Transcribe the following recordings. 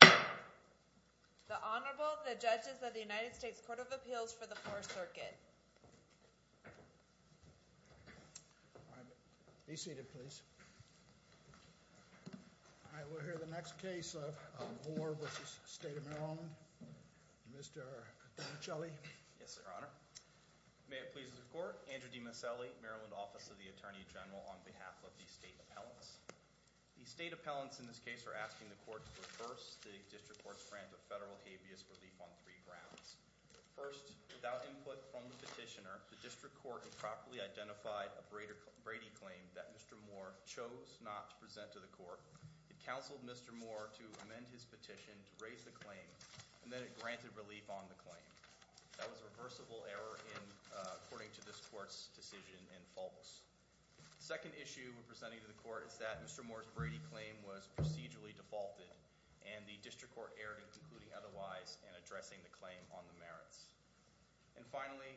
The Honorable, the Judges of the United States Court of Appeals for the Fourth Circuit. All right. Be seated, please. All right. We'll hear the next case of Moore v. State of Maryland. Mr. DiMasselli. Yes, Your Honor. May it please the Court. Andrew DiMasselli, Maryland Office of the Attorney General, on behalf of the State Appellants. The State Appellants in this case are asking the Court to reverse the District Court's grant of federal habeas relief on three grounds. First, without input from the petitioner, the District Court improperly identified a Brady claim that Mr. Moore chose not to present to the Court. It counseled Mr. Moore to amend his petition to raise the claim, and then it granted relief on the claim. That was a reversible error according to this Court's decision and false. The second issue we're presenting to the Court is that Mr. Moore's Brady claim was procedurally defaulted, and the District Court erred in concluding otherwise and addressing the claim on the merits. And finally,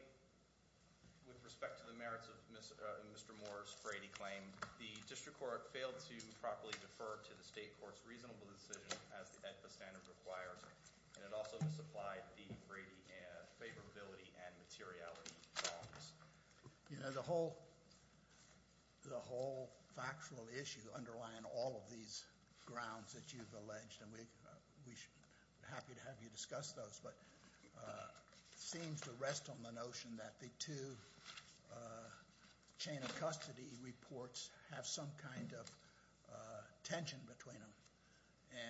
with respect to the merits of Mr. Moore's Brady claim, the District Court failed to properly defer to the State Court's reasonable decision as the AEDPA standard requires, and it also misapplied the Brady favorability and materiality bonds. The whole factual issue underlying all of these grounds that you've alleged, and we're happy to have you discuss those, but it seems to rest on the notion that the two chain of custody reports have some kind of tension between them.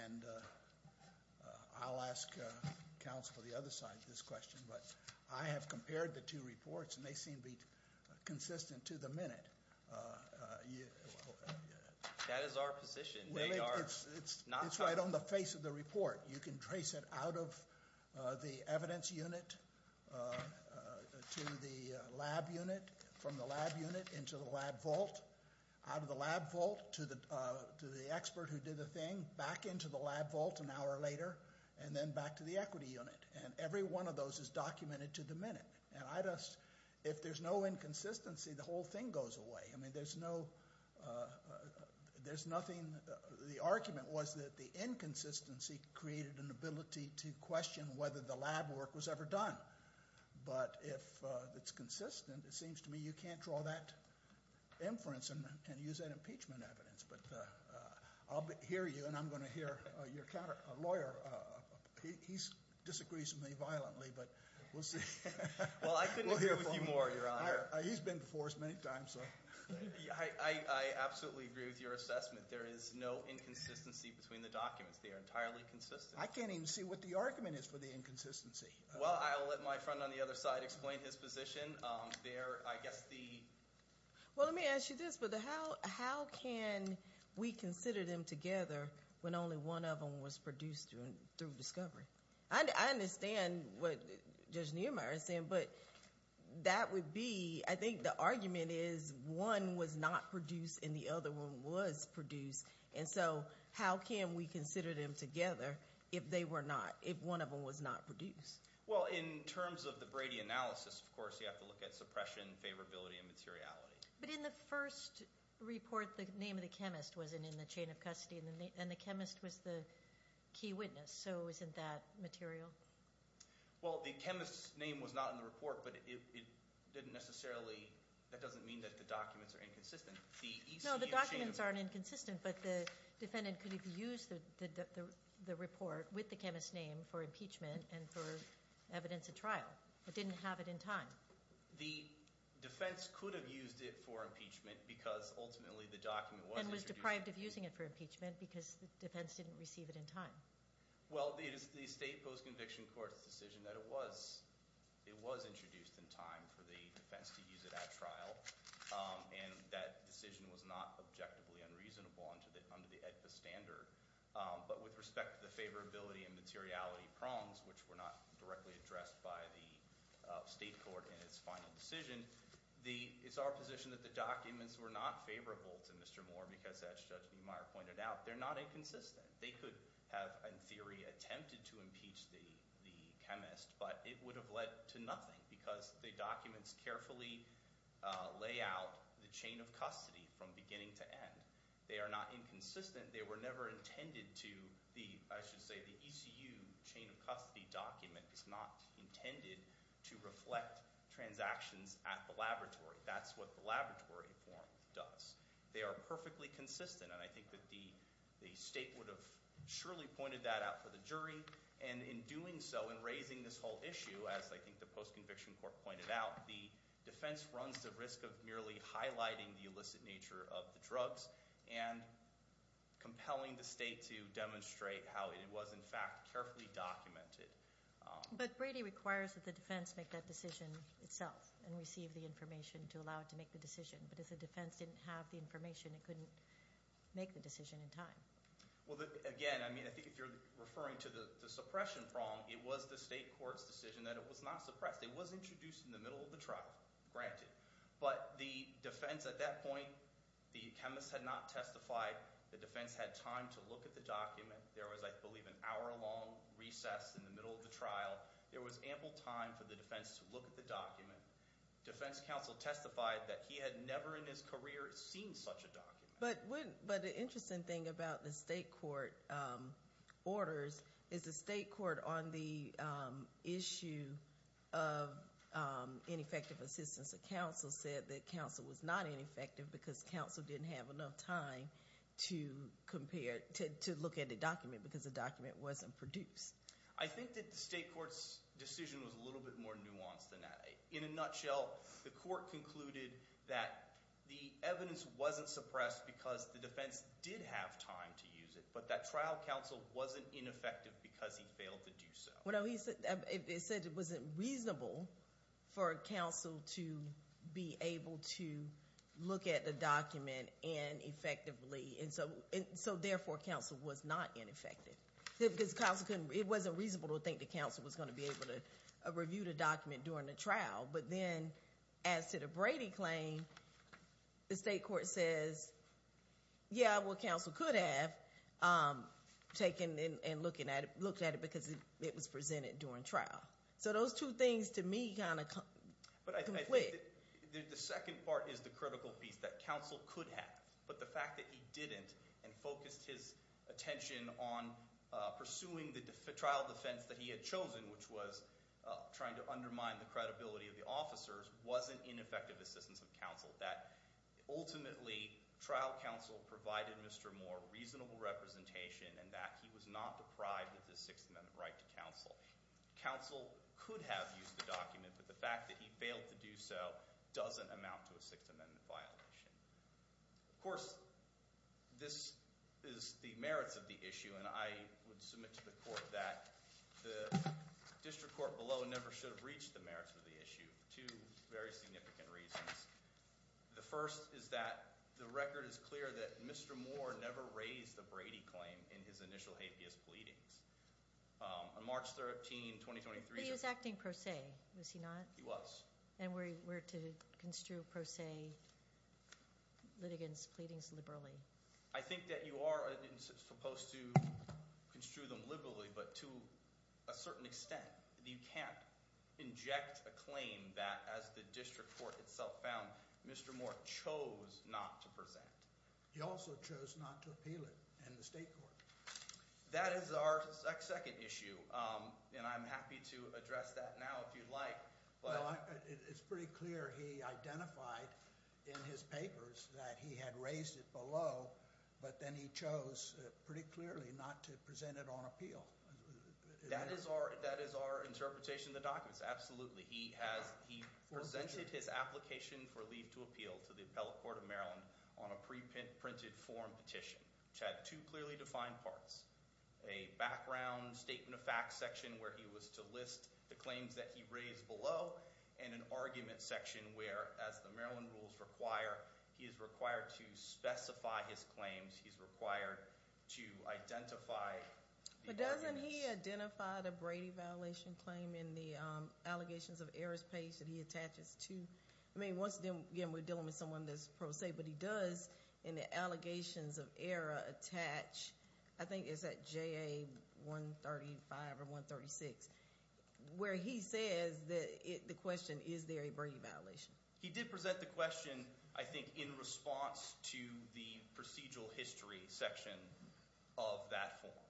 And I'll ask counsel for the other side of this question, but I have compared the two reports, and they seem to be consistent to the minute. That is our position. It's right on the face of the report. You can trace it out of the evidence unit to the lab unit, from the lab unit into the lab vault, out of the lab vault to the expert who did the thing, back into the lab vault an hour later, and then back to the equity unit. And every one of those is documented to the minute. And if there's no inconsistency, the whole thing goes away. I mean, there's nothing. The argument was that the inconsistency created an ability to question whether the lab work was ever done. But if it's consistent, it seems to me you can't draw that inference and use that impeachment evidence. I'll hear you, and I'm going to hear your lawyer. He disagrees with me violently, but we'll see. Well, I couldn't agree with you more, Your Honor. He's been before us many times. I absolutely agree with your assessment. There is no inconsistency between the documents. They are entirely consistent. I can't even see what the argument is for the inconsistency. Well, I'll let my friend on the other side explain his position. Well, let me ask you this. How can we consider them together when only one of them was produced through discovery? I understand what Judge Niemeyer is saying, but that would be ‑‑ I think the argument is one was not produced and the other one was produced. And so how can we consider them together if they were not, if one of them was not produced? Well, in terms of the Brady analysis, of course, you have to look at suppression, favorability, and materiality. But in the first report, the name of the chemist wasn't in the chain of custody, and the chemist was the key witness. So isn't that material? Well, the chemist's name was not in the report, but it didn't necessarily ‑‑ that doesn't mean that the documents are inconsistent. No, the documents aren't inconsistent, but the defendant could have used the report with the chemist's name for impeachment and for evidence at trial, but didn't have it in time. The defense could have used it for impeachment because ultimately the document was introduced in time. And was deprived of using it for impeachment because the defense didn't receive it in time. Well, it is the State Post-Conviction Court's decision that it was introduced in time for the defense to use it at trial, and that decision was not objectively unreasonable under the AEDPA standard. But with respect to the favorability and materiality prongs, which were not directly addressed by the state court in its final decision, it's our position that the documents were not favorable to Mr. Moore because as Judge Niemeyer pointed out, they're not inconsistent. They could have, in theory, attempted to impeach the chemist, but it would have led to nothing because the documents carefully lay out the chain of custody from beginning to end. They are not inconsistent. They were never intended to, I should say, the ECU chain of custody document is not intended to reflect transactions at the laboratory. That's what the laboratory form does. They are perfectly consistent, and I think that the state would have surely pointed that out for the jury. And in doing so, in raising this whole issue, as I think the Post-Conviction Court pointed out, the defense runs the risk of merely highlighting the illicit nature of the drugs and compelling the state to demonstrate how it was, in fact, carefully documented. But Brady requires that the defense make that decision itself and receive the information to allow it to make the decision. But if the defense didn't have the information, it couldn't make the decision in time. Well, again, I mean I think if you're referring to the suppression prong, it was the state court's decision that it was not suppressed. It was introduced in the middle of the trial, granted. But the defense at that point, the chemist had not testified. The defense had time to look at the document. There was, I believe, an hour-long recess in the middle of the trial. There was ample time for the defense to look at the document. Defense counsel testified that he had never in his career seen such a document. But the interesting thing about the state court orders is the state court on the issue of ineffective assistance of counsel said that counsel was not ineffective because counsel didn't have enough time to compare, to look at the document because the document wasn't produced. I think that the state court's decision was a little bit more nuanced than that. In a nutshell, the court concluded that the evidence wasn't suppressed because the defense did have time to use it, but that trial counsel wasn't ineffective because he failed to do so. It said it wasn't reasonable for counsel to be able to look at the document ineffectively, and so therefore counsel was not ineffective. It wasn't reasonable to think that counsel was going to be able to review the document during the trial, but then as to the Brady claim, the state court says, yeah, well, counsel could have taken and looked at it because it was presented during trial. So those two things to me kind of conflict. The second part is the critical piece, that counsel could have, but the fact that he didn't and focused his attention on pursuing the trial defense that he had chosen, which was trying to undermine the credibility of the officers, wasn't ineffective assistance of counsel, that ultimately trial counsel provided Mr. Moore reasonable representation and that he was not deprived of the Sixth Amendment right to counsel. Counsel could have used the document, but the fact that he failed to do so doesn't amount to a Sixth Amendment violation. Of course, this is the merits of the issue, and I would submit to the court that the district court below never should have reached the merits of the issue, for two very significant reasons. The first is that the record is clear that Mr. Moore never raised the Brady claim in his initial habeas pleadings. On March 13, 2023— But he was acting pro se, was he not? He was. And we're to construe pro se litigants' pleadings liberally. I think that you are supposed to construe them liberally, but to a certain extent you can't inject a claim that, as the district court itself found, Mr. Moore chose not to present. He also chose not to appeal it in the state court. That is our second issue, and I'm happy to address that now if you'd like. It's pretty clear he identified in his papers that he had raised it below, but then he chose pretty clearly not to present it on appeal. That is our interpretation of the documents, absolutely. He presented his application for leave to appeal to the Appellate Court of Maryland on a preprinted form petition, which had two clearly defined parts, a background statement of facts section where he was to list the claims that he raised below, and an argument section where, as the Maryland rules require, he is required to specify his claims. He's required to identify the arguments. But doesn't he identify the Brady violation claim in the allegations of errors page that he attaches to— I mean, once again, we're dealing with someone that's pro se, but he does in the allegations of error attach, I think it's at JA 135 or 136, where he says the question, is there a Brady violation? He did present the question, I think, in response to the procedural history section of that form.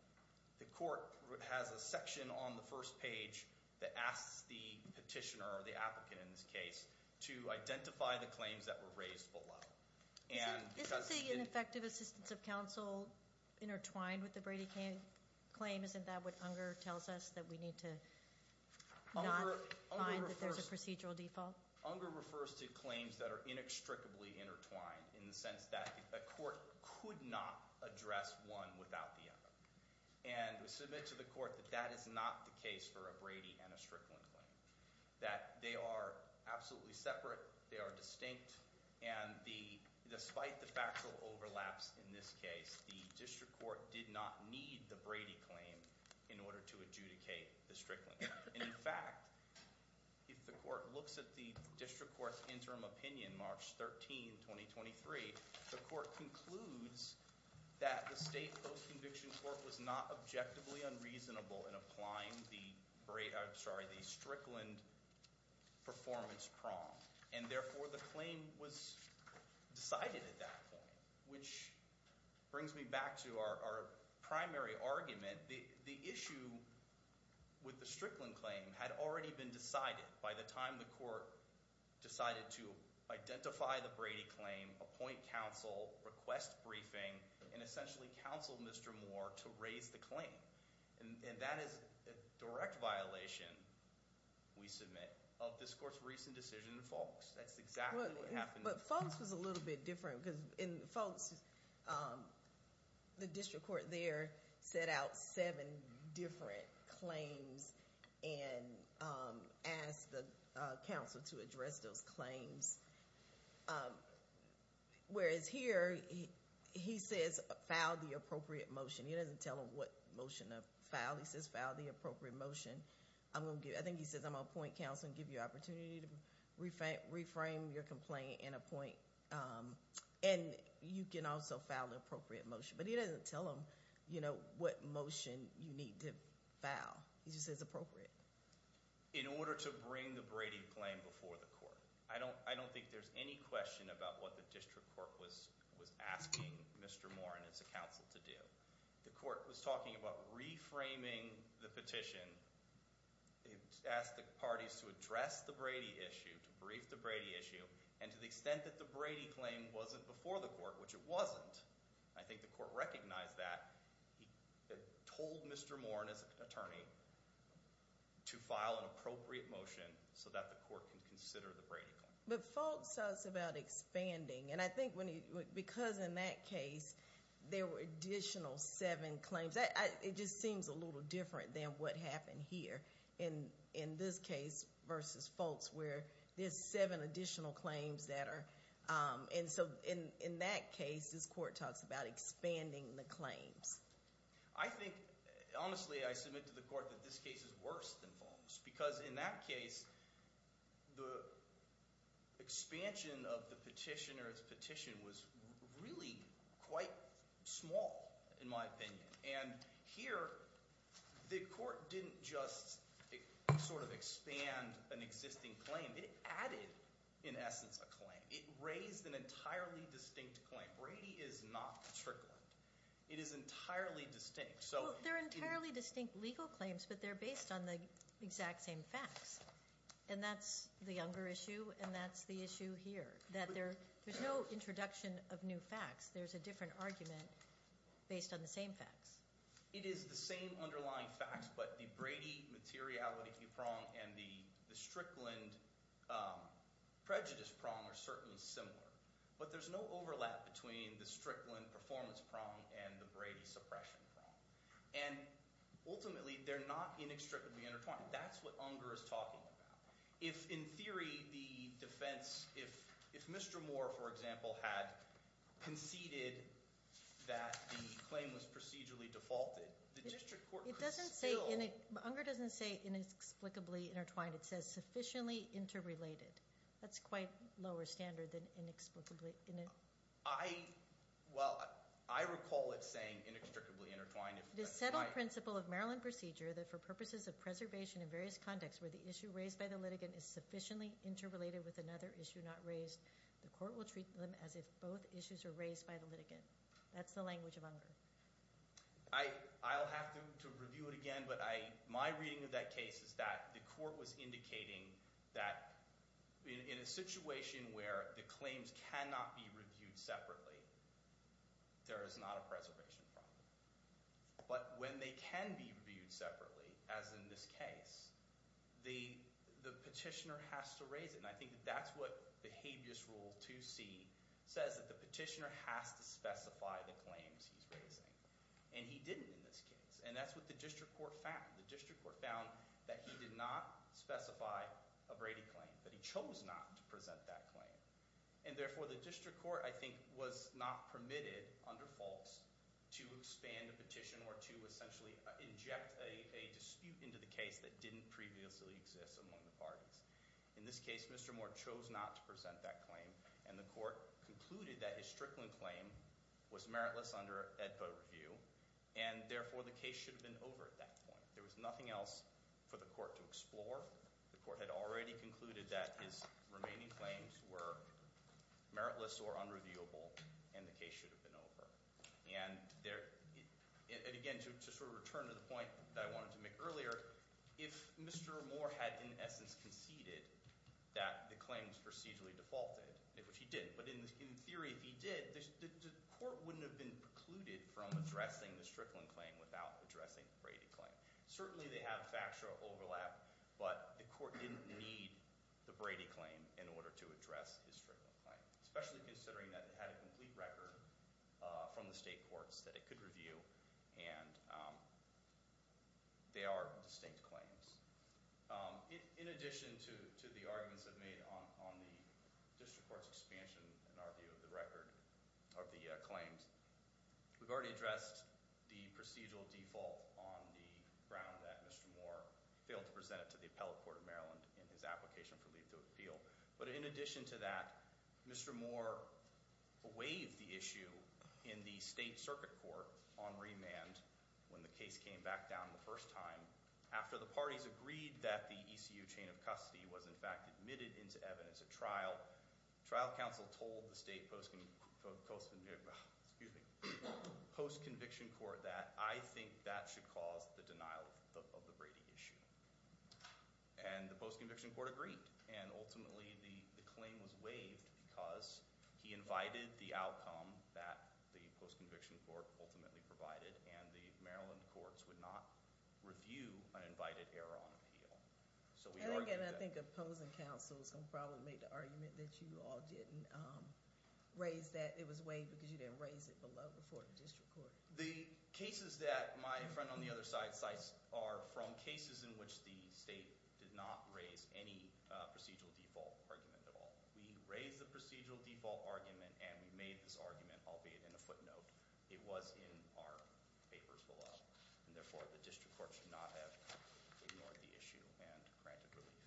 The court has a section on the first page that asks the petitioner or the applicant in this case to identify the claims that were raised below. Isn't the ineffective assistance of counsel intertwined with the Brady claim? Isn't that what Unger tells us, that we need to not find that there's a procedural default? Unger refers to claims that are inextricably intertwined in the sense that a court could not address one without the other. And we submit to the court that that is not the case for a Brady and a Strickland claim, that they are absolutely separate, they are distinct, and despite the factual overlaps in this case, the district court did not need the Brady claim in order to adjudicate the Strickland claim. In fact, if the court looks at the district court's interim opinion, March 13, 2023, the court concludes that the state post-conviction court was not objectively unreasonable in applying the Strickland performance prong. And therefore, the claim was decided at that point, which brings me back to our primary argument. The issue with the Strickland claim had already been decided by the time the court decided to identify the Brady claim, appoint counsel, request briefing, and essentially counsel Mr. Moore to raise the claim. And that is a direct violation, we submit, of this court's recent decision in Foulkes. That's exactly what happened. But Foulkes was a little bit different because in Foulkes, the district court there set out seven different claims and asked the counsel to address those claims. Whereas here, he says, file the appropriate motion. He doesn't tell them what motion to file. He says, file the appropriate motion. I think he says, I'm going to appoint counsel and give you an opportunity to reframe your complaint and appoint. And you can also file the appropriate motion. But he doesn't tell them what motion you need to file. He just says appropriate. In order to bring the Brady claim before the court. I don't think there's any question about what the district court was asking Mr. Moore and his counsel to do. The court was talking about reframing the petition. It asked the parties to address the Brady issue, to brief the Brady issue, and to the extent that the Brady claim wasn't before the court, which it wasn't. I think the court recognized that. He told Mr. Moore and his attorney to file an appropriate motion so that the court can consider the Brady claim. But Foulkes talks about expanding. And I think because in that case, there were additional seven claims. It just seems a little different than what happened here in this case versus Foulkes, where there's seven additional claims that are. And so in that case, this court talks about expanding the claims. I think, honestly, I submit to the court that this case is worse than Foulkes. Because in that case, the expansion of the petitioner's petition was really quite small, in my opinion. And here, the court didn't just sort of expand an existing claim. It added, in essence, a claim. It raised an entirely distinct claim. Brady is not Strickland. It is entirely distinct. Well, they're entirely distinct legal claims, but they're based on the exact same facts. And that's the Younger issue, and that's the issue here, that there's no introduction of new facts. There's a different argument based on the same facts. It is the same underlying facts, but the Brady materiality prong and the Strickland prejudice prong are certainly similar. But there's no overlap between the Strickland performance prong and the Brady suppression prong. And ultimately, they're not inextricably intertwined. That's what Younger is talking about. If, in theory, the defense – if Mr. Moore, for example, had conceded that the claim was procedurally defaulted, the district court could still – It doesn't say – Younger doesn't say inexplicably intertwined. It says sufficiently interrelated. That's quite lower standard than inexplicably – I – well, I recall it saying inextricably intertwined. It is settled principle of Maryland procedure that for purposes of preservation in various contexts where the issue raised by the litigant is sufficiently interrelated with another issue not raised, the court will treat them as if both issues are raised by the litigant. That's the language of Younger. I'll have to review it again, but I – my reading of that case is that the court was indicating that in a situation where the claims cannot be reviewed separately, there is not a preservation problem. But when they can be reviewed separately, as in this case, the petitioner has to raise it. And I think that that's what the habeas rule 2C says, that the petitioner has to specify the claims he's raising. And he didn't in this case, and that's what the district court found. The district court found that he did not specify a Brady claim, that he chose not to present that claim. And therefore, the district court, I think, was not permitted under false to expand a petition or to essentially inject a dispute into the case that didn't previously exist among the parties. In this case, Mr. Moore chose not to present that claim, and the court concluded that his Strickland claim was meritless under AEDPA review. And therefore, the case should have been over at that point. There was nothing else for the court to explore. The court had already concluded that his remaining claims were meritless or unreviewable, and the case should have been over. And again, to sort of return to the point that I wanted to make earlier, if Mr. Moore had in essence conceded that the claim was procedurally defaulted, which he did, but in theory if he did, the court wouldn't have been precluded from addressing the Strickland claim without addressing the Brady claim. Certainly, they have factual overlap, but the court didn't need the Brady claim in order to address his Strickland claim, especially considering that it had a complete record from the state courts that it could review, and they are distinct claims. In addition to the arguments I've made on the district court's expansion in our view of the record of the claims, we've already addressed the procedural default on the ground that Mr. Moore failed to present it to the appellate court of Maryland in his application for leave to appeal. But in addition to that, Mr. Moore waived the issue in the state circuit court on remand when the case came back down the first time after the parties agreed that the ECU chain of custody was in fact admitted into evidence at trial. Trial counsel told the state post-conviction court that I think that should cause the denial of the Brady issue. And the post-conviction court agreed, and ultimately the claim was waived because he invited the outcome that the post-conviction court ultimately provided, and the Maryland courts would not review an invited error on appeal. And again, I think opposing counsel is going to probably make the argument that you all didn't raise that it was waived because you didn't raise it before the district court. The cases that my friend on the other side cites are from cases in which the state did not raise any procedural default argument at all. We raised the procedural default argument, and we made this argument, albeit in a footnote. It was in our papers below, and therefore the district court should not have ignored the issue and granted relief.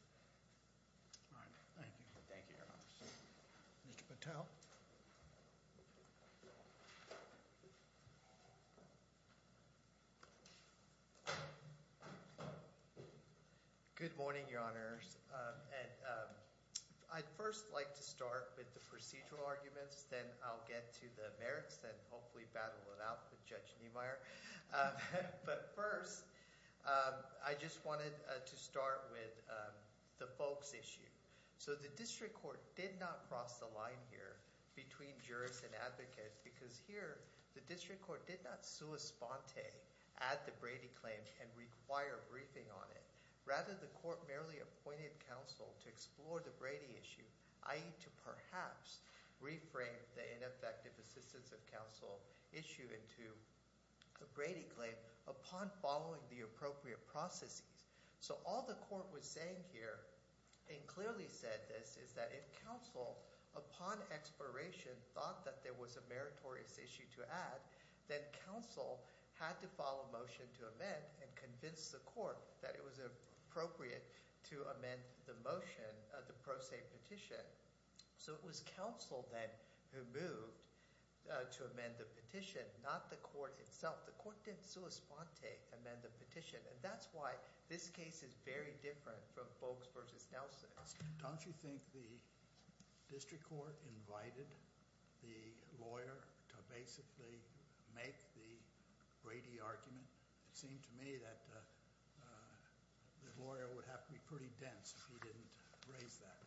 Thank you, Your Honor. Mr. Patel? Good morning, Your Honors. I'd first like to start with the procedural arguments, then I'll get to the merits, then hopefully battle it out with Judge Niemeyer. But first, I just wanted to start with the folks issue. So the district court did not cross the line here between jurors and advocates because here the district court did not sua sponte add the Brady claim and require a briefing on it. Rather, the court merely appointed counsel to explore the Brady issue, i.e. to perhaps reframe the ineffective assistance of counsel issue into a Brady claim upon following the appropriate processes. So all the court was saying here and clearly said this is that if counsel, upon exploration, thought that there was a meritorious issue to add, then counsel had to file a motion to amend and convince the court that it was appropriate to amend the motion, the pro se petition. So it was counsel then who moved to amend the petition, not the court itself. But the court did sua sponte amend the petition, and that's why this case is very different from Bogues v. Nelson. Don't you think the district court invited the lawyer to basically make the Brady argument? It seemed to me that the lawyer would have to be pretty dense if he didn't raise that.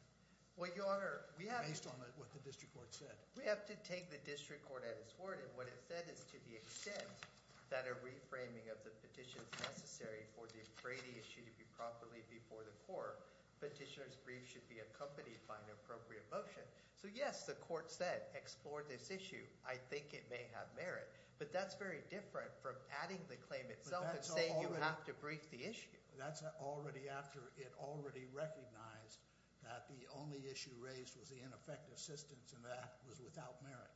Well, Your Honor, we have – Based on what the district court said. We have to take the district court at its word, and what it said is to the extent that a reframing of the petition is necessary for the Brady issue to be properly before the court, petitioner's brief should be accompanied by an appropriate motion. So, yes, the court said explore this issue. I think it may have merit. But that's very different from adding the claim itself and saying you have to brief the issue. That's already after it already recognized that the only issue raised was the ineffective assistance, and that was without merit,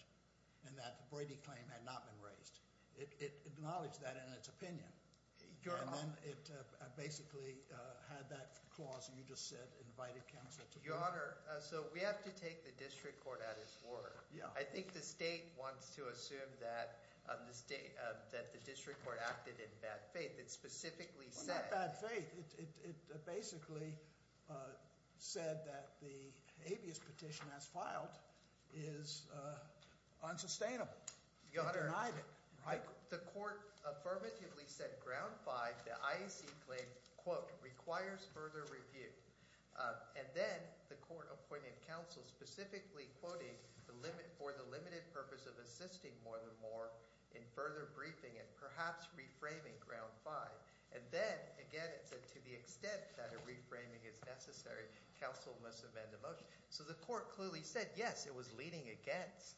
and that the Brady claim had not been raised. It acknowledged that in its opinion. And then it basically had that clause you just said invited counsel to brief. Your Honor, so we have to take the district court at its word. I think the state wants to assume that the district court acted in bad faith. It specifically said – Well, not bad faith. It basically said that the habeas petition as filed is unsustainable. It denied it. Your Honor, the court affirmatively said ground five, the IAC claim, quote, requires further review. And then the court appointed counsel specifically quoting for the limited purpose of assisting more than more in further briefing and perhaps reframing ground five. And then, again, it said to the extent that a reframing is necessary, counsel must amend the motion. So the court clearly said, yes, it was leading against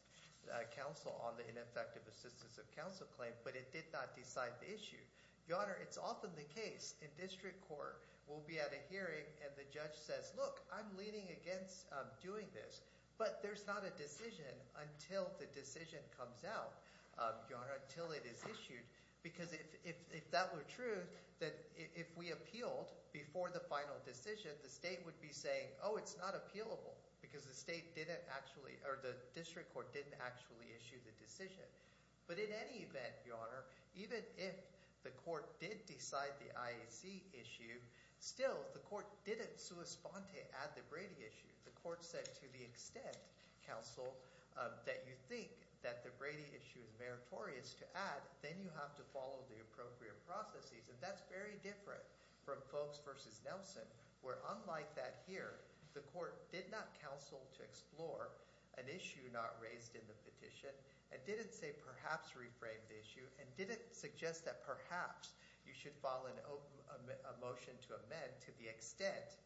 counsel on the ineffective assistance of counsel claim, but it did not decide the issue. Your Honor, it's often the case in district court we'll be at a hearing and the judge says, look, I'm leaning against doing this. But there's not a decision until the decision comes out, Your Honor, until it is issued. Because if that were true, then if we appealed before the final decision, the state would be saying, oh, it's not appealable because the state didn't actually – or the district court didn't actually issue the decision. But in any event, Your Honor, even if the court did decide the IAC issue, still the court didn't sua sponte add the Brady issue. The court said to the extent, counsel, that you think that the Brady issue is meritorious to add, then you have to follow the appropriate processes. And that's very different from Folks v. Nelson where unlike that here, the court did not counsel to explore an issue not raised in the petition and didn't say perhaps reframe the issue and didn't suggest that perhaps you should follow a motion to amend to the extent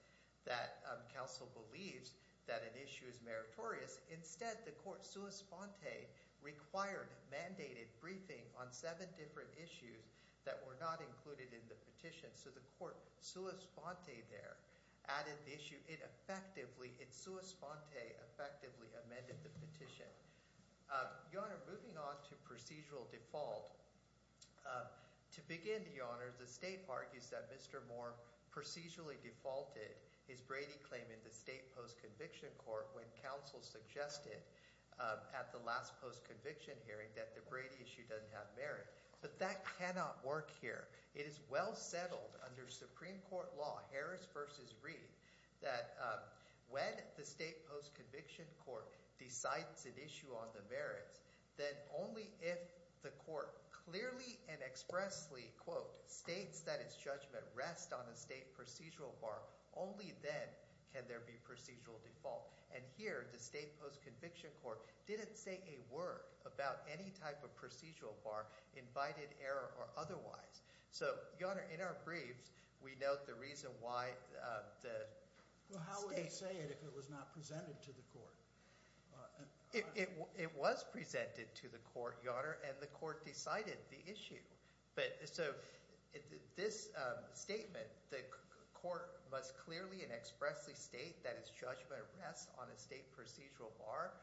that counsel believes that an issue is meritorious. Instead, the court sua sponte required mandated briefing on seven different issues that were not included in the petition. So the court sua sponte there added the issue. It effectively – it sua sponte effectively amended the petition. Your Honor, moving on to procedural default, to begin, Your Honor, the state argues that Mr. Moore procedurally defaulted his Brady claim in the state postconviction court when counsel suggested at the last postconviction hearing that the Brady issue doesn't have merit. But that cannot work here. It is well settled under Supreme Court law, Harris v. Reed, that when the state postconviction court decides an issue on the merits, then only if the court clearly and expressly, quote, states that its judgment rests on a state procedural bar, only then can there be procedural default. And here the state postconviction court didn't say a word about any type of procedural bar, invited, error, or otherwise. So, Your Honor, in our briefs, we note the reason why the state – Well, how would it say it if it was not presented to the court? It was presented to the court, Your Honor, and the court decided the issue. So this statement, the court must clearly and expressly state that its judgment rests on a state procedural bar,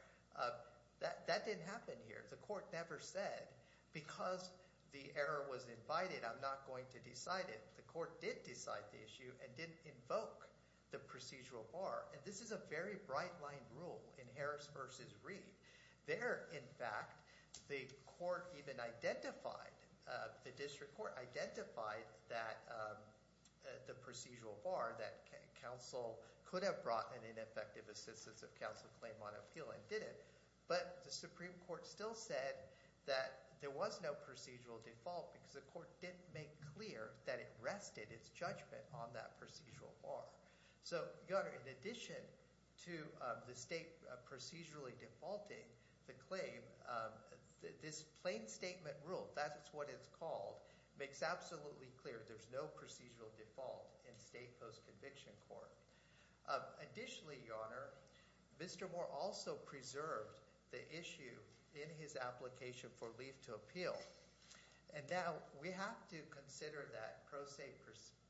that didn't happen here. The court never said because the error was invited, I'm not going to decide it. The court did decide the issue and didn't invoke the procedural bar. And this is a very bright-lined rule in Harris v. Reed. There, in fact, the court even identified – the district court identified that the procedural bar that counsel could have brought an ineffective assistance of counsel claim on appeal and didn't. But the Supreme Court still said that there was no procedural default because the court didn't make clear that it rested its judgment on that procedural bar. So, Your Honor, in addition to the state procedurally defaulting the claim, this plain statement rule, that is what it's called, makes absolutely clear there's no procedural default in state post-conviction court. Additionally, Your Honor, Mr. Moore also preserved the issue in his application for leave to appeal. And now we have to consider that pro se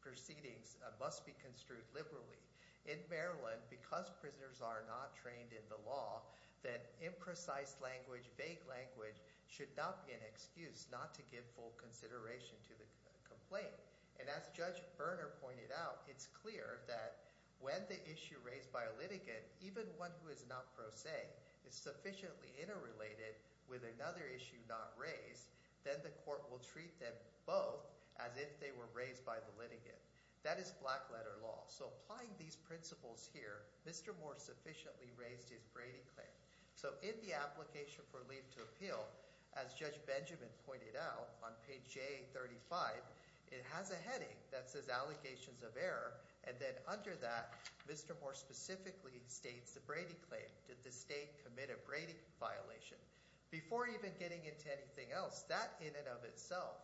proceedings must be construed liberally. In Maryland, because prisoners are not trained in the law, that imprecise language, vague language should not be an excuse not to give full consideration to the complaint. And as Judge Berner pointed out, it's clear that when the issue raised by a litigant, even one who is not pro se, is sufficiently interrelated with another issue not raised, then the court will treat them both as if they were raised by the litigant. That is black-letter law. So applying these principles here, Mr. Moore sufficiently raised his Brady claim. So in the application for leave to appeal, as Judge Benjamin pointed out on page J35, it has a heading that says allegations of error, and then under that, Mr. Moore specifically states the Brady claim. Did the state commit a Brady violation? Before even getting into anything else, that in and of itself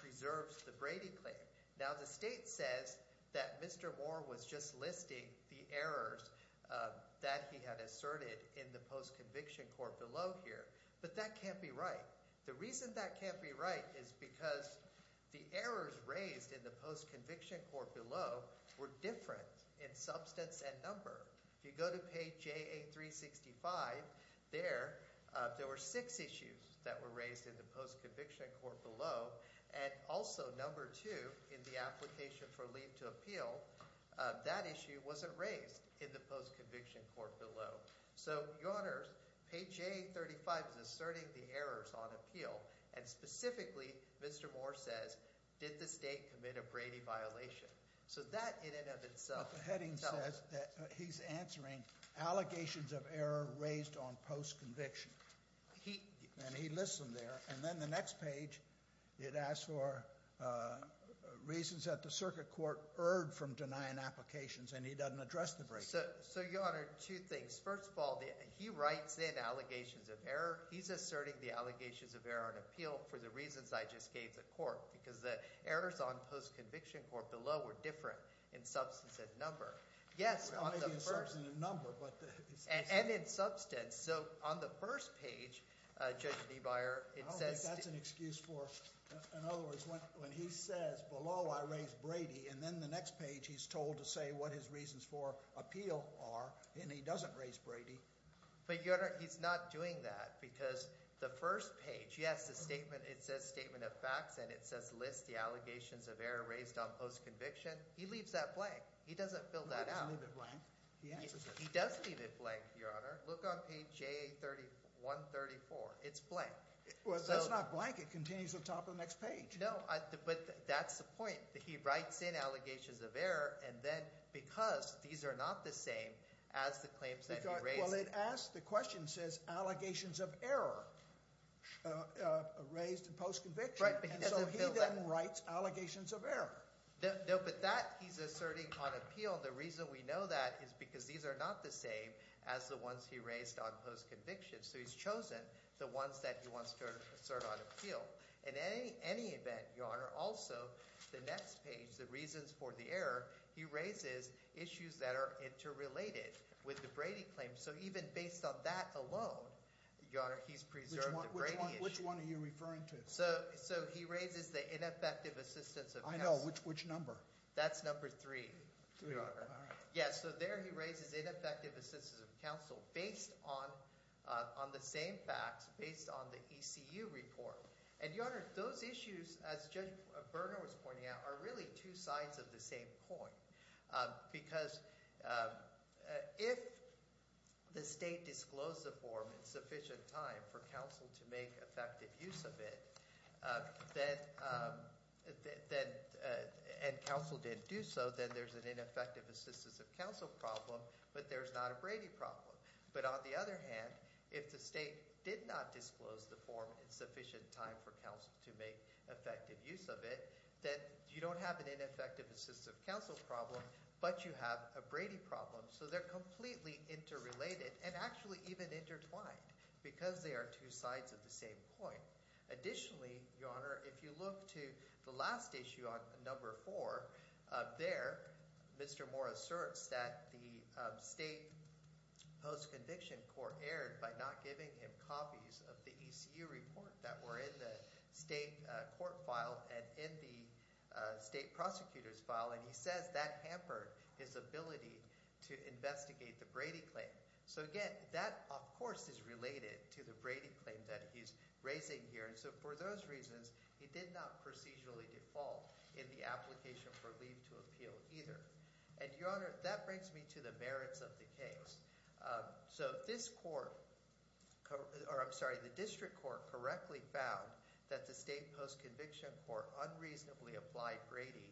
preserves the Brady claim. Now, the state says that Mr. Moore was just listing the errors that he had asserted in the post-conviction court below here, but that can't be right. The reason that can't be right is because the errors raised in the post-conviction court below were different in substance and number. If you go to page J365, there were six issues that were raised in the post-conviction court below, and also number two in the application for leave to appeal, that issue wasn't raised in the post-conviction court below. So, Your Honors, page J35 is asserting the errors on appeal, and specifically, Mr. Moore says, did the state commit a Brady violation? But the heading says that he's answering allegations of error raised on post-conviction, and he lists them there. Then the next page, it asks for reasons that the circuit court erred from denying applications, and he doesn't address the Brady claim. So, Your Honor, two things. First of all, he writes in allegations of error. He's asserting the allegations of error on appeal for the reasons I just gave the court, because the errors on post-conviction court below were different in substance and number. Yes, on the first... It might be in substance and number, but... And in substance. So, on the first page, Judge DeBuyer, it says... I don't think that's an excuse for... in other words, when he says, below, I raised Brady, and then the next page, he's told to say what his reasons for appeal are, and he doesn't raise Brady. But, Your Honor, he's not doing that, because the first page, yes, it says statement of facts, and it says list the allegations of error raised on post-conviction. He leaves that blank. He doesn't fill that out. He doesn't leave it blank. He answers it. He does leave it blank, Your Honor. Look on page 134. It's blank. Well, it's not blank. It continues at the top of the next page. No, but that's the point. He writes in allegations of error, and then because these are not the same as the claims that he raised... Well, it asks – the question says allegations of error raised in post-conviction. Right, but he doesn't fill that. And so he then writes allegations of error. No, but that he's asserting on appeal. The reason we know that is because these are not the same as the ones he raised on post-conviction. So he's chosen the ones that he wants to assert on appeal. In any event, Your Honor, also, the next page, the reasons for the error, he raises issues that are interrelated with the Brady claim. So even based on that alone, Your Honor, he's preserved the Brady issue. Which one are you referring to? So he raises the ineffective assistance of counsel. I know. Which number? That's number 3, Your Honor. Yeah, so there he raises ineffective assistance of counsel based on the same facts, based on the ECU report. And, Your Honor, those issues, as Judge Bernal was pointing out, are really two sides of the same coin. Because if the state disclosed the form in sufficient time for counsel to make effective use of it, and counsel didn't do so, then there's an ineffective assistance of counsel problem, but there's not a Brady problem. But on the other hand, if the state did not disclose the form in sufficient time for counsel to make effective use of it, then you don't have an ineffective assistance of counsel problem, but you have a Brady problem. So they're completely interrelated and actually even intertwined because they are two sides of the same coin. Additionally, Your Honor, if you look to the last issue on number 4, there Mr. Moore asserts that the state post-conviction court erred by not giving him copies of the ECU report that were in the state court file and in the state prosecutor's file. And he says that hampered his ability to investigate the Brady claim. So again, that of course is related to the Brady claim that he's raising here. And so for those reasons, he did not procedurally default in the application for leave to appeal either. And Your Honor, that brings me to the merits of the case. So this court – or I'm sorry, the district court correctly found that the state post-conviction court unreasonably applied Brady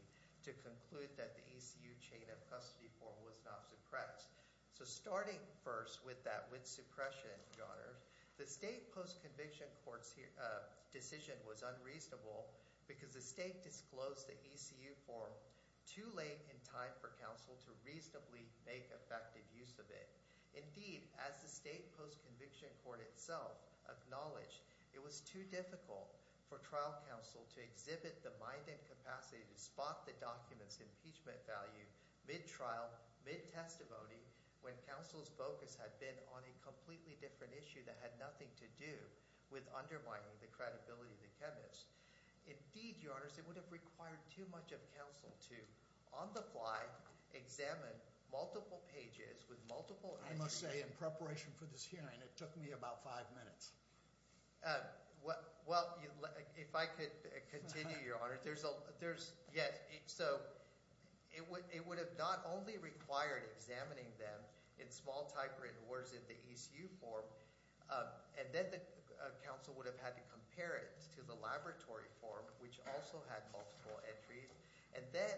to conclude that the ECU chain of custody form was not suppressed. So starting first with that with suppression, Your Honor, the state post-conviction court's decision was unreasonable because the state disclosed the ECU form too late in time for counsel to reasonably make effective use of it. Indeed, as the state post-conviction court itself acknowledged, it was too difficult for trial counsel to exhibit the mind and capacity to spot the document's impeachment value mid-trial, mid-testimony, when counsel's focus had been on a completely different issue that had nothing to do with undermining the credibility of the chemist. Indeed, Your Honors, it would have required too much of counsel to on the fly examine multiple pages with multiple – I must say in preparation for this hearing, it took me about five minutes. Well, if I could continue, Your Honor, there's – yes. So it would have not only required examining them in small typewritten words in the ECU form, and then the counsel would have had to compare it to the laboratory form, which also had multiple entries, and then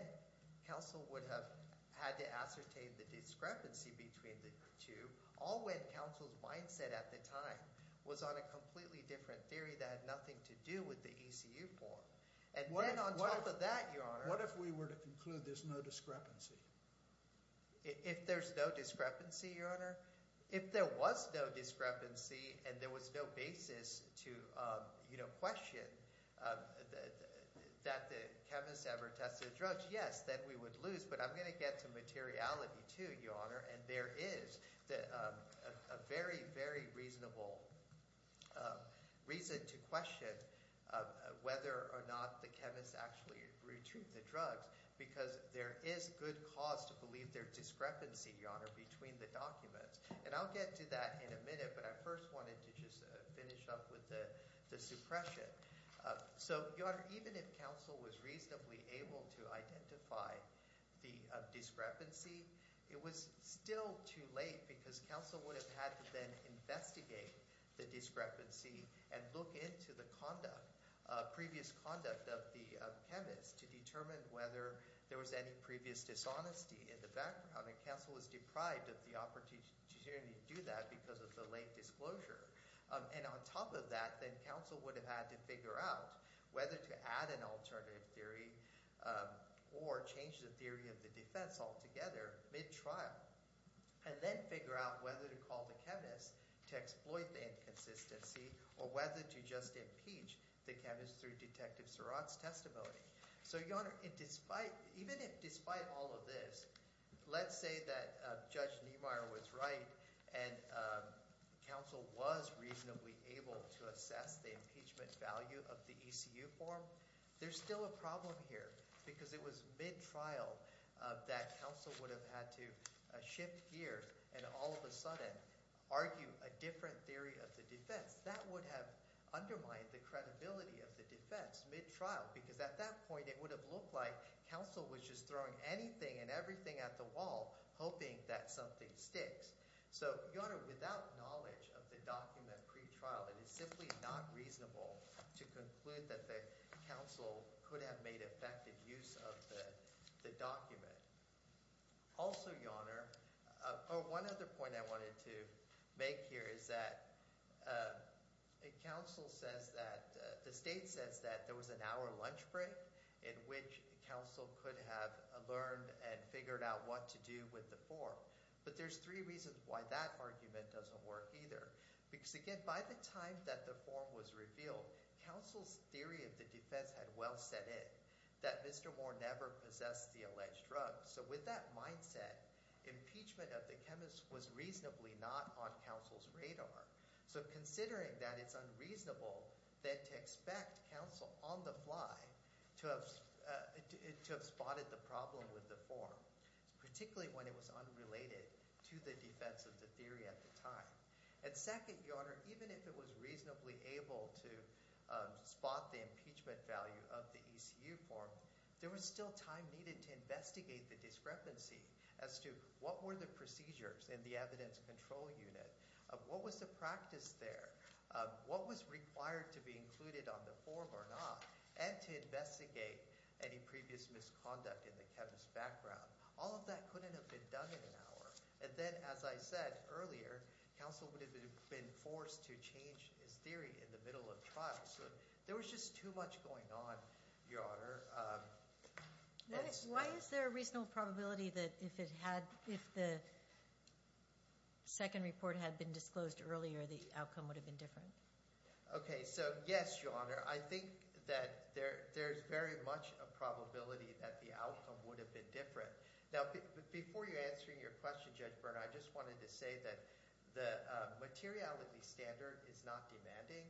counsel would have had to ascertain the discrepancy between the two, all when counsel's mindset at the time was on a completely different theory that had nothing to do with the ECU form. And then on top of that, Your Honor – What if we were to conclude there's no discrepancy? If there's no discrepancy, Your Honor? If there was no discrepancy and there was no basis to question that the chemist ever tested drugs, yes, then we would lose. But I'm going to get to materiality too, Your Honor, and there is a very, very reasonable reason to question whether or not the chemist actually retrieved the drugs because there is good cause to believe there's discrepancy, Your Honor, between the documents. And I'll get to that in a minute, but I first wanted to just finish up with the suppression. So, Your Honor, even if counsel was reasonably able to identify the discrepancy, it was still too late because counsel would have had to then investigate the discrepancy and look into the previous conduct of the chemist to determine whether there was any previous dishonesty in the background, and counsel was deprived of the opportunity to do that because of the late disclosure. And on top of that, then counsel would have had to figure out whether to add an alternative theory or change the theory of the defense altogether mid-trial and then figure out whether to call the chemist to exploit the inconsistency or whether to just impeach the chemist through Detective Surratt's testimony. So, Your Honor, even if despite all of this, let's say that Judge Niemeyer was right and counsel was reasonably able to assess the impeachment value of the ECU form, there's still a problem here because it was mid-trial that counsel would have had to shift gears and all of a sudden argue a different theory of the defense. That would have undermined the credibility of the defense mid-trial because at that point, it would have looked like counsel was just throwing anything and everything at the wall hoping that something sticks. So, Your Honor, without knowledge of the document pre-trial, it is simply not reasonable to conclude that the counsel could have made effective use of the document. Also, Your Honor, one other point I wanted to make here is that the state says that there was an hour lunch break in which counsel could have learned and figured out what to do with the form, but there's three reasons why that argument doesn't work either. Because again, by the time that the form was revealed, counsel's theory of the defense had well set in that Mr. Moore never possessed the alleged drug. So, with that mindset, impeachment of the chemist was reasonably not on counsel's radar. So, considering that, it's unreasonable then to expect counsel on the fly to have spotted the problem with the form, particularly when it was unrelated to the defense of the theory at the time. And second, Your Honor, even if it was reasonably able to spot the impeachment value of the ECU form, there was still time needed to investigate the discrepancy as to what were the procedures in the evidence control unit, what was the practice there, what was required to be included on the form or not, and to investigate any previous misconduct in the chemist's background. All of that couldn't have been done in an hour. And then, as I said earlier, counsel would have been forced to change his theory in the middle of trial. So, there was just too much going on, Your Honor. Why is there a reasonable probability that if it had – if the second report had been disclosed earlier, the outcome would have been different? Okay. So, yes, Your Honor. I think that there's very much a probability that the outcome would have been different. Now, before you answer your question, Judge Burner, I just wanted to say that the materiality standard is not demanding.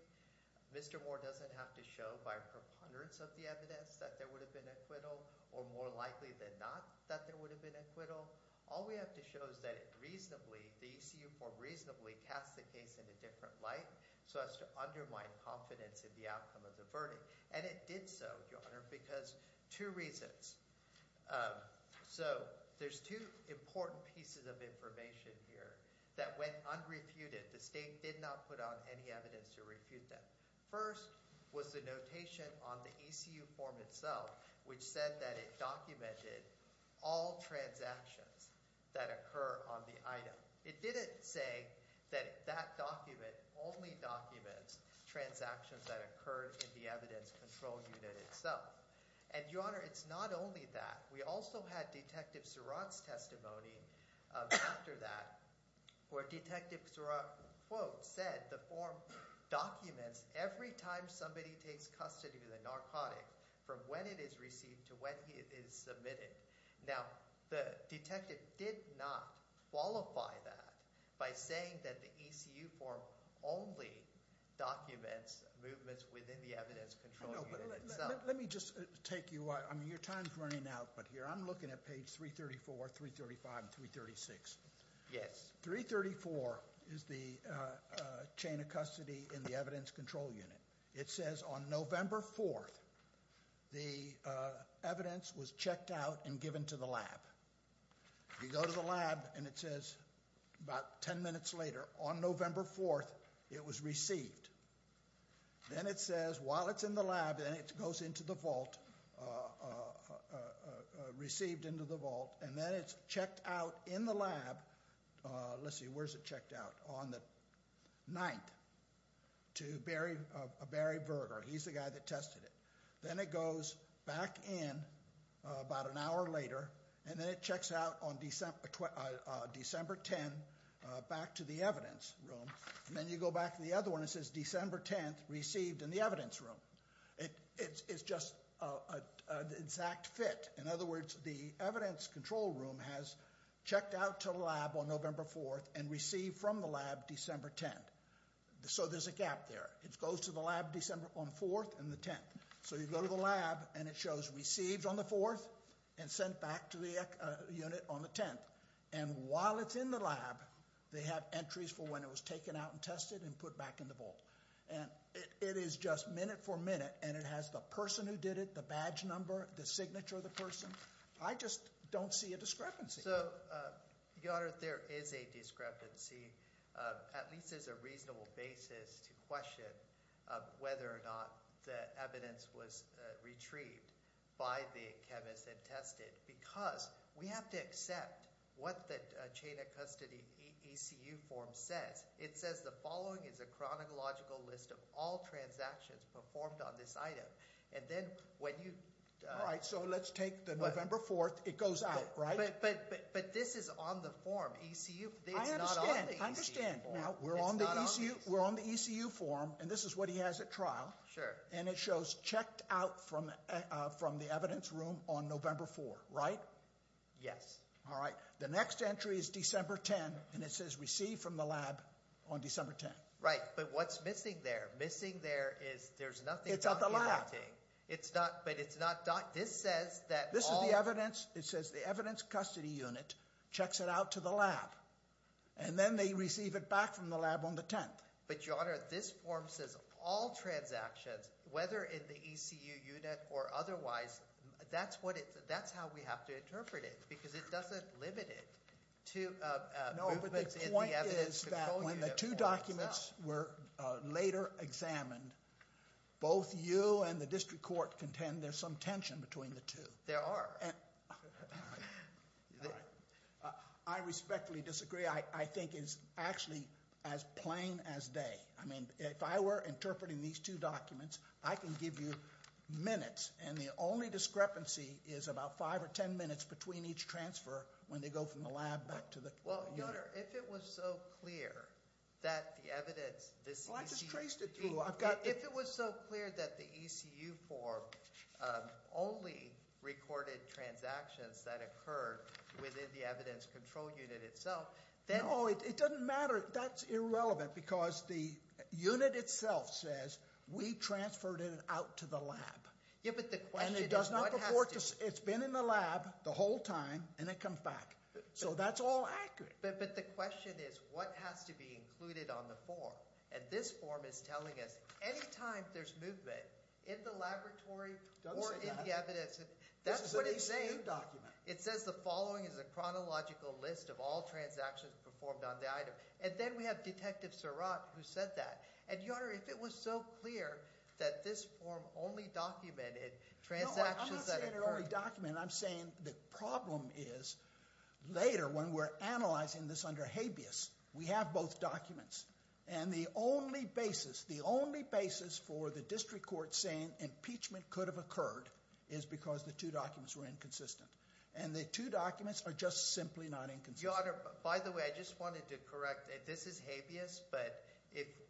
Mr. Moore doesn't have to show by preponderance of the evidence that there would have been acquittal or more likely than not that there would have been acquittal. All we have to show is that it reasonably – the ECU form reasonably cast the case in a different light so as to undermine confidence in the outcome of the verdict. And it did so, Your Honor, because two reasons. So, there's two important pieces of information here that went unrefuted. The State did not put out any evidence to refute that. First was the notation on the ECU form itself, which said that it documented all transactions that occur on the item. It didn't say that that document only documents transactions that occur in the evidence control unit itself. And, Your Honor, it's not only that. We also had Detective Surratt's testimony after that where Detective Surratt, quote, said the form documents every time somebody takes custody of the narcotic from when it is received to when it is submitted. Now, the detective did not qualify that by saying that the ECU form only documents movements within the evidence control unit itself. Let me just take you – I mean, your time's running out, but here I'm looking at page 334, 335, and 336. Yes. 334 is the chain of custody in the evidence control unit. It says on November 4th the evidence was checked out and given to the lab. You go to the lab and it says about 10 minutes later, on November 4th, it was received. Then it says while it's in the lab, then it goes into the vault, received into the vault, and then it's checked out in the lab – let's see, where's it checked out? On the 9th to Barry Berger. He's the guy that tested it. Then it goes back in about an hour later, and then it checks out on December 10th back to the evidence room. Then you go back to the other one. It says December 10th, received in the evidence room. It's just an exact fit. In other words, the evidence control room has checked out to the lab on November 4th and received from the lab December 10th. So there's a gap there. It goes to the lab December 4th and the 10th. So you go to the lab and it shows received on the 4th and sent back to the unit on the 10th. While it's in the lab, they have entries for when it was taken out and tested and put back in the vault. It is just minute for minute, and it has the person who did it, the badge number, the signature of the person. I just don't see a discrepancy. So, Your Honor, there is a discrepancy, at least as a reasonable basis to question whether or not the evidence was retrieved by the chemist and tested. Because we have to accept what the chain of custody ECU form says. It says the following is a chronological list of all transactions performed on this item. And then when you – All right, so let's take the November 4th. It goes out, right? But this is on the form. ECU – I understand. I understand. We're on the ECU form, and this is what he has at trial. Sure. And it shows checked out from the evidence room on November 4th, right? Yes. All right. The next entry is December 10th, and it says received from the lab on December 10th. Right. But what's missing there? Missing there is there's nothing – It's at the lab. But it's not – this says that all – This is the evidence. It says the evidence custody unit checks it out to the lab. And then they receive it back from the lab on the 10th. But, Your Honor, this form says all transactions, whether in the ECU unit or otherwise, that's what it – that's how we have to interpret it because it doesn't limit it to movements in the evidence – No, but the point is that when the two documents were later examined, both you and the district court contend there's some tension between the two. There are. All right. All right. I respectfully disagree. I think it's actually as plain as day. I mean, if I were interpreting these two documents, I can give you minutes, and the only discrepancy is about five or ten minutes between each transfer when they go from the lab back to the – Well, Your Honor, if it was so clear that the evidence – Well, I just traced it through. If it was so clear that the ECU form only recorded transactions that occurred within the evidence control unit itself, then – No, it doesn't matter. That's irrelevant because the unit itself says we transferred it out to the lab. Yeah, but the question is what has to – And it does not purport to – it's been in the lab the whole time, and it comes back. So that's all accurate. But the question is what has to be included on the form. And this form is telling us any time there's movement in the laboratory or in the evidence – That's what it's saying. This is an ECU document. It says the following is a chronological list of all transactions performed on the item. And then we have Detective Surratt who said that. And, Your Honor, if it was so clear that this form only documented transactions that occurred – No, I'm not saying it only documented. I'm saying the problem is later when we're analyzing this under habeas, we have both documents. And the only basis, the only basis for the district court saying impeachment could have occurred is because the two documents were inconsistent. And the two documents are just simply not inconsistent. Your Honor, by the way, I just wanted to correct. This is habeas, but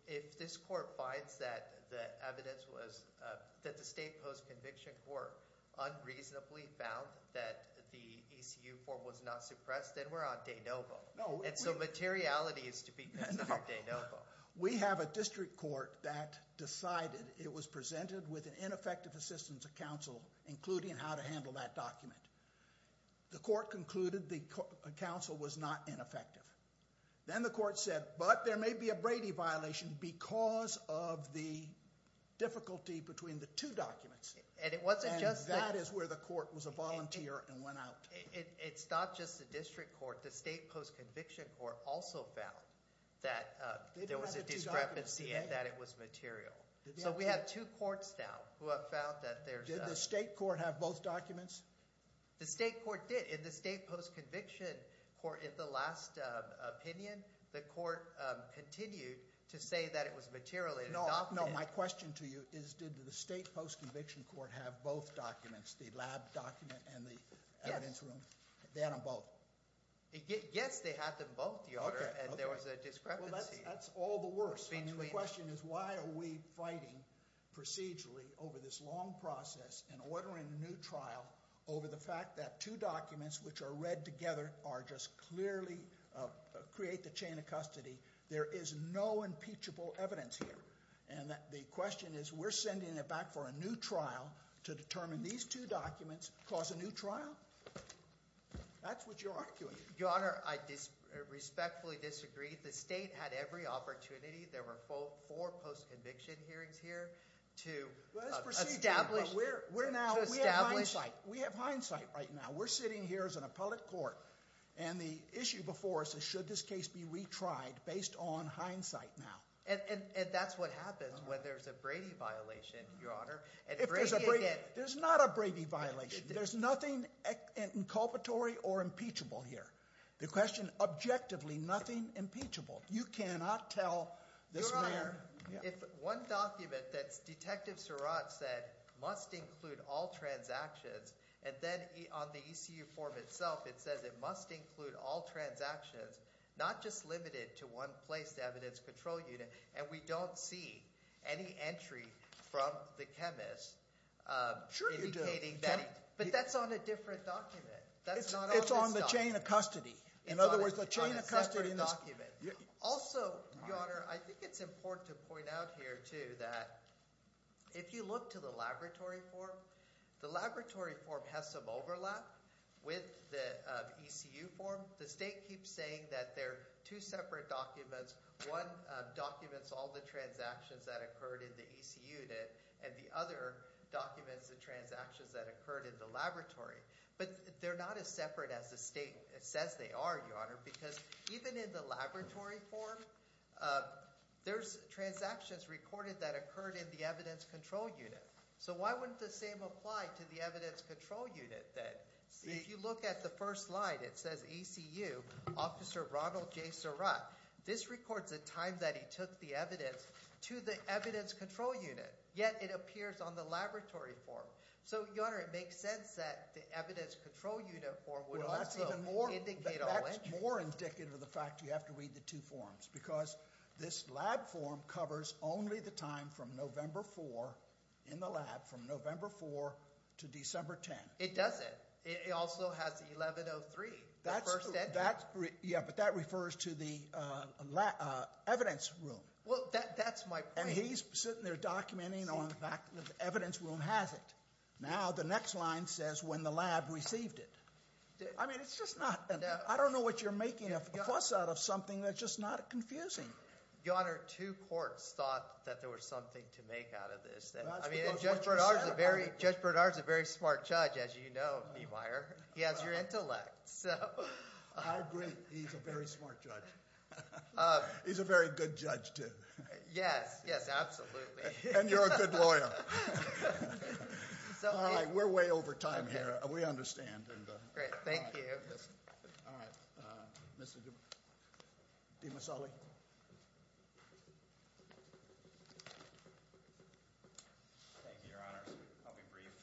if this court finds that the evidence was – that the state post-conviction court unreasonably found that the ECU form was not suppressed, then we're on de novo. And so materiality is to be considered de novo. We have a district court that decided it was presented with ineffective assistance of counsel, including how to handle that document. The court concluded the counsel was not ineffective. Then the court said, but there may be a Brady violation because of the difficulty between the two documents. And that is where the court was a volunteer and went out. It's not just the district court. The state post-conviction court also found that there was a discrepancy and that it was material. So we have two courts now who have found that there's – Did the state court have both documents? The state court did. In the state post-conviction court, in the last opinion, the court continued to say that it was material. No, my question to you is did the state post-conviction court have both documents, the lab document and the evidence room? They had them both. Yes, they had them both, Your Honor, and there was a discrepancy. Well, that's all the worse. I mean, the question is why are we fighting procedurally over this long process and ordering a new trial over the fact that two documents, which are read together, are just clearly – create the chain of custody. There is no impeachable evidence here. And the question is we're sending it back for a new trial to determine these two documents cause a new trial? That's what you're arguing. Your Honor, I respectfully disagree. The state had every opportunity. There were four post-conviction hearings here to establish – Let's proceed. We're now – we have hindsight right now. We're sitting here as an appellate court, and the issue before us is should this case be retried based on hindsight now? And that's what happens when there's a Brady violation, Your Honor. If there's a Brady – there's not a Brady violation. There's nothing inculpatory or impeachable here. The question, objectively, nothing impeachable. You cannot tell this man – Your Honor, if one document that Detective Surratt said must include all transactions, and then on the ECU form itself it says it must include all transactions, not just limited to one place evidence control unit, and we don't see any entry from the chemist indicating that. But that's on a different document. It's on the chain of custody. In other words, the chain of custody in this – Also, Your Honor, I think it's important to point out here too that if you look to the laboratory form, the laboratory form has some overlap with the ECU form. The state keeps saying that they're two separate documents. One documents all the transactions that occurred in the ECU unit, and the other documents the transactions that occurred in the laboratory. But they're not as separate as the state says they are, Your Honor, because even in the laboratory form there's transactions recorded that occurred in the evidence control unit. So why wouldn't the same apply to the evidence control unit then? If you look at the first slide, it says ECU, Officer Ronald J. Surratt. This records the time that he took the evidence to the evidence control unit, yet it appears on the laboratory form. So, Your Honor, it makes sense that the evidence control unit form would also indicate all entries. Well, that's even more indicative of the fact you have to read the two forms because this lab form covers only the time from November 4 in the lab, from November 4 to December 10. It doesn't. It also has 1103, the first entry. Yeah, but that refers to the evidence room. Well, that's my point. And he's sitting there documenting on the fact that the evidence room has it. Now the next line says when the lab received it. I mean, it's just not – I don't know what you're making a fuss out of something that's just not confusing. Your Honor, two courts thought that there was something to make out of this. Judge Bernard is a very smart judge, as you know, Meemeyer. He has your intellect. I agree. He's a very smart judge. He's a very good judge too. Yes, yes, absolutely. And you're a good lawyer. All right. We're way over time here. We understand. Great. Thank you. All right. Mr. DiMasoli. Thank you, Your Honor. I'll be brief.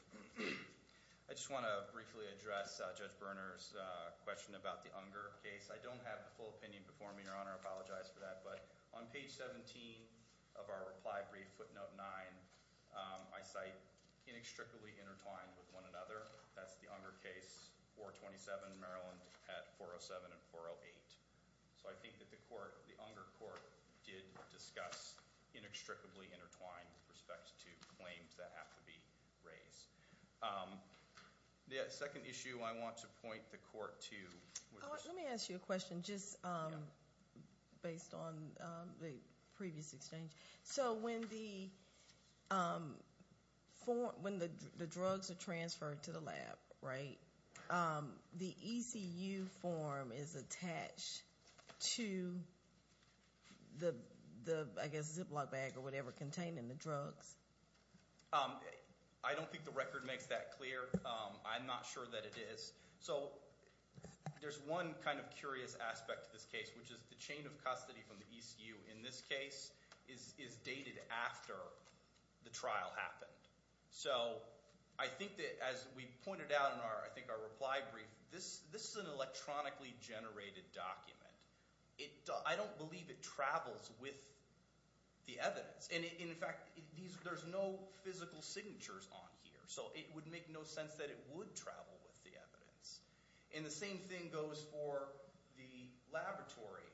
I just want to briefly address Judge Berner's question about the Unger case. I don't have the full opinion before me, Your Honor. I apologize for that. But on page 17 of our reply brief, footnote 9, I cite inextricably intertwined with one another. That's the Unger case, 427 Maryland at 407 and 408. So I think that the Unger court did discuss inextricably intertwined with respect to claims that have to be raised. The second issue I want to point the court to. Let me ask you a question just based on the previous exchange. So when the drugs are transferred to the lab, right, the ECU form is attached to the, I guess, Ziploc bag or whatever contained in the drugs? I don't think the record makes that clear. I'm not sure that it is. So there's one kind of curious aspect to this case, which is the chain of custody from the ECU in this case is dated after the trial happened. So I think that as we pointed out in our, I think, our reply brief, this is an electronically generated document. I don't believe it travels with the evidence. And, in fact, there's no physical signatures on here. So it would make no sense that it would travel with the evidence. And the same thing goes for the laboratory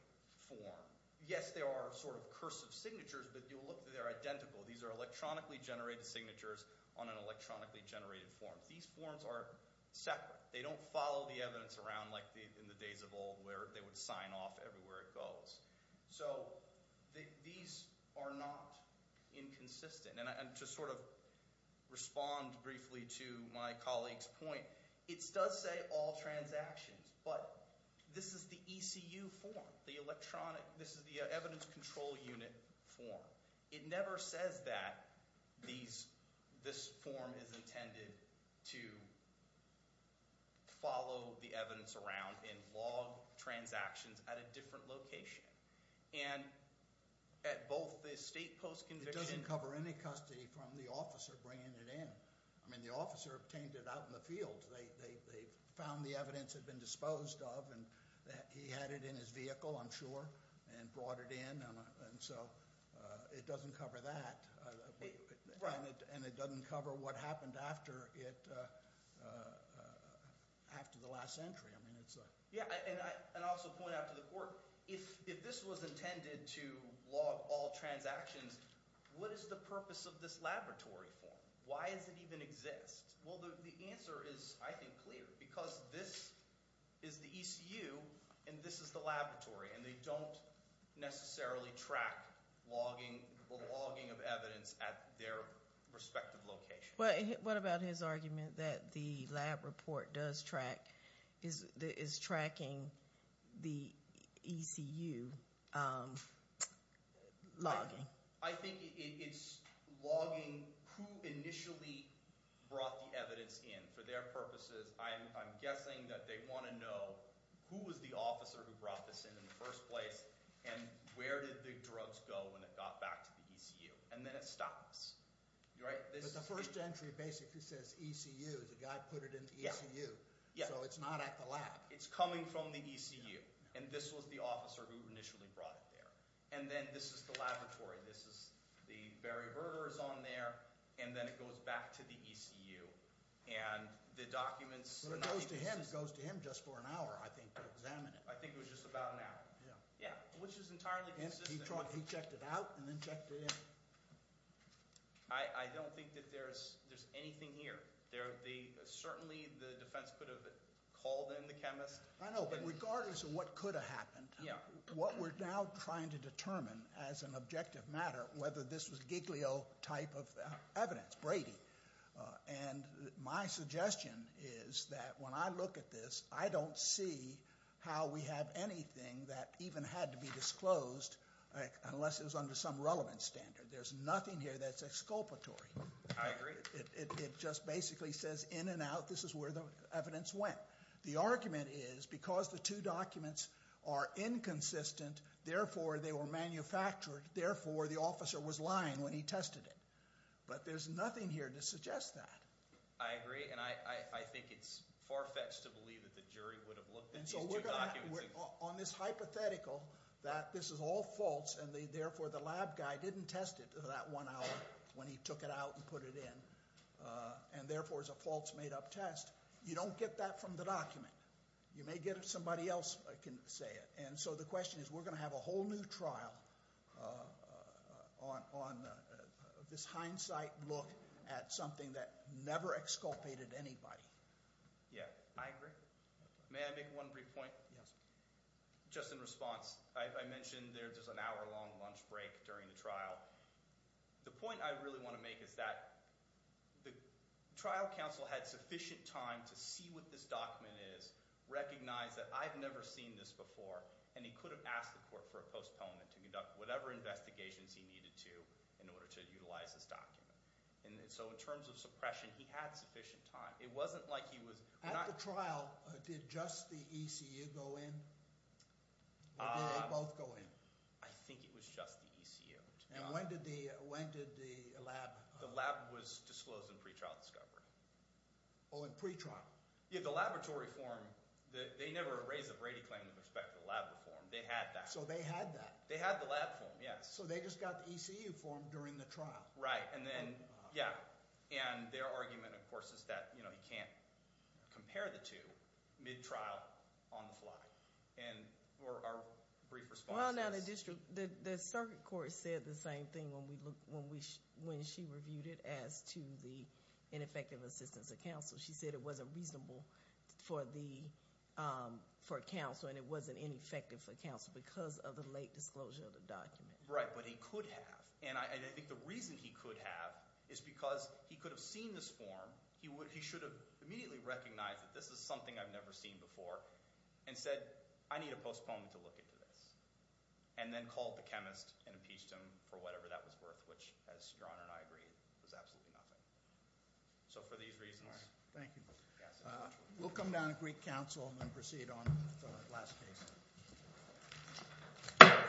form. Yes, there are sort of cursive signatures, but they're identical. These are electronically generated signatures on an electronically generated form. These forms are separate. They don't follow the evidence around like in the days of old where they would sign off everywhere it goes. So these are not inconsistent. And to sort of respond briefly to my colleague's point, it does say all transactions, but this is the ECU form, the electronic. This is the evidence control unit form. It never says that this form is intended to follow the evidence around and log transactions at a different location. And at both the state post-conviction- It doesn't cover any custody from the officer bringing it in. I mean the officer obtained it out in the field. They found the evidence had been disposed of, and he had it in his vehicle, I'm sure, and brought it in. And so it doesn't cover that. And it doesn't cover what happened after it, after the last entry. Yeah, and I'll also point out to the court, if this was intended to log all transactions, what is the purpose of this laboratory form? Why does it even exist? Well, the answer is, I think, clear because this is the ECU, and this is the laboratory, and they don't necessarily track logging of evidence at their respective location. What about his argument that the lab report does track, is tracking the ECU logging? I think it's logging who initially brought the evidence in for their purposes. I'm guessing that they want to know who was the officer who brought this in in the first place, and where did the drugs go when it got back to the ECU? And then it stops. But the first entry basically says ECU, the guy put it in the ECU, so it's not at the lab. It's coming from the ECU, and this was the officer who initially brought it there. And then this is the laboratory. This is the Barry Berger is on there, and then it goes back to the ECU, and the documents are not consistent. It goes to him just for an hour, I think, to examine it. I think it was just about an hour. Yeah, which is entirely consistent. He checked it out and then checked it in. I don't think that there's anything here. Certainly the defense could have called in the chemist. I know, but regardless of what could have happened, what we're now trying to determine as an objective matter, whether this was Giglio type of evidence, Brady. And my suggestion is that when I look at this, I don't see how we have anything that even had to be disclosed unless it was under some relevant standard. There's nothing here that's exculpatory. I agree. It just basically says in and out, this is where the evidence went. The argument is because the two documents are inconsistent, therefore they were manufactured, therefore the officer was lying when he tested it. But there's nothing here to suggest that. I agree, and I think it's far-fetched to believe that the jury would have looked at these two documents. On this hypothetical that this is all false, and therefore the lab guy didn't test it that one hour when he took it out and put it in, and therefore it's a false made-up test, you don't get that from the document. You may get it somebody else can say it. And so the question is we're going to have a whole new trial on this hindsight look at something that never exculpated anybody. Yeah, I agree. May I make one brief point? Yes. Just in response, I mentioned there's an hour-long lunch break during the trial. The point I really want to make is that the trial counsel had sufficient time to see what this document is, recognize that I've never seen this before, and he could have asked the court for a postponement to conduct whatever investigations he needed to in order to utilize this document. And so in terms of suppression, he had sufficient time. It wasn't like he was – At the trial, did just the ECU go in, or did they both go in? I think it was just the ECU. And when did the lab – The lab was disclosed in pretrial discovery. Oh, in pretrial? Yeah, the laboratory form. They never raised the Brady claim with respect to the lab reform. They had that. So they had that? They had the lab form, yes. So they just got the ECU form during the trial? Right, and then – yeah. And their argument, of course, is that you can't compare the two mid-trial, on the fly. And our brief response is – Well, now the district – the circuit court said the same thing when she reviewed it as to the ineffective assistance of counsel. She said it wasn't reasonable for counsel and it wasn't ineffective for counsel because of the late disclosure of the document. Right, but he could have. And I think the reason he could have is because he could have seen this form. He should have immediately recognized that this is something I've never seen before and said, I need a postponement to look into this, and then called the chemist and impeached him for whatever that was worth, which, as Your Honor and I agree, was absolutely nothing. So for these reasons – Thank you. We'll come down to Greek counsel and then proceed on to the last case.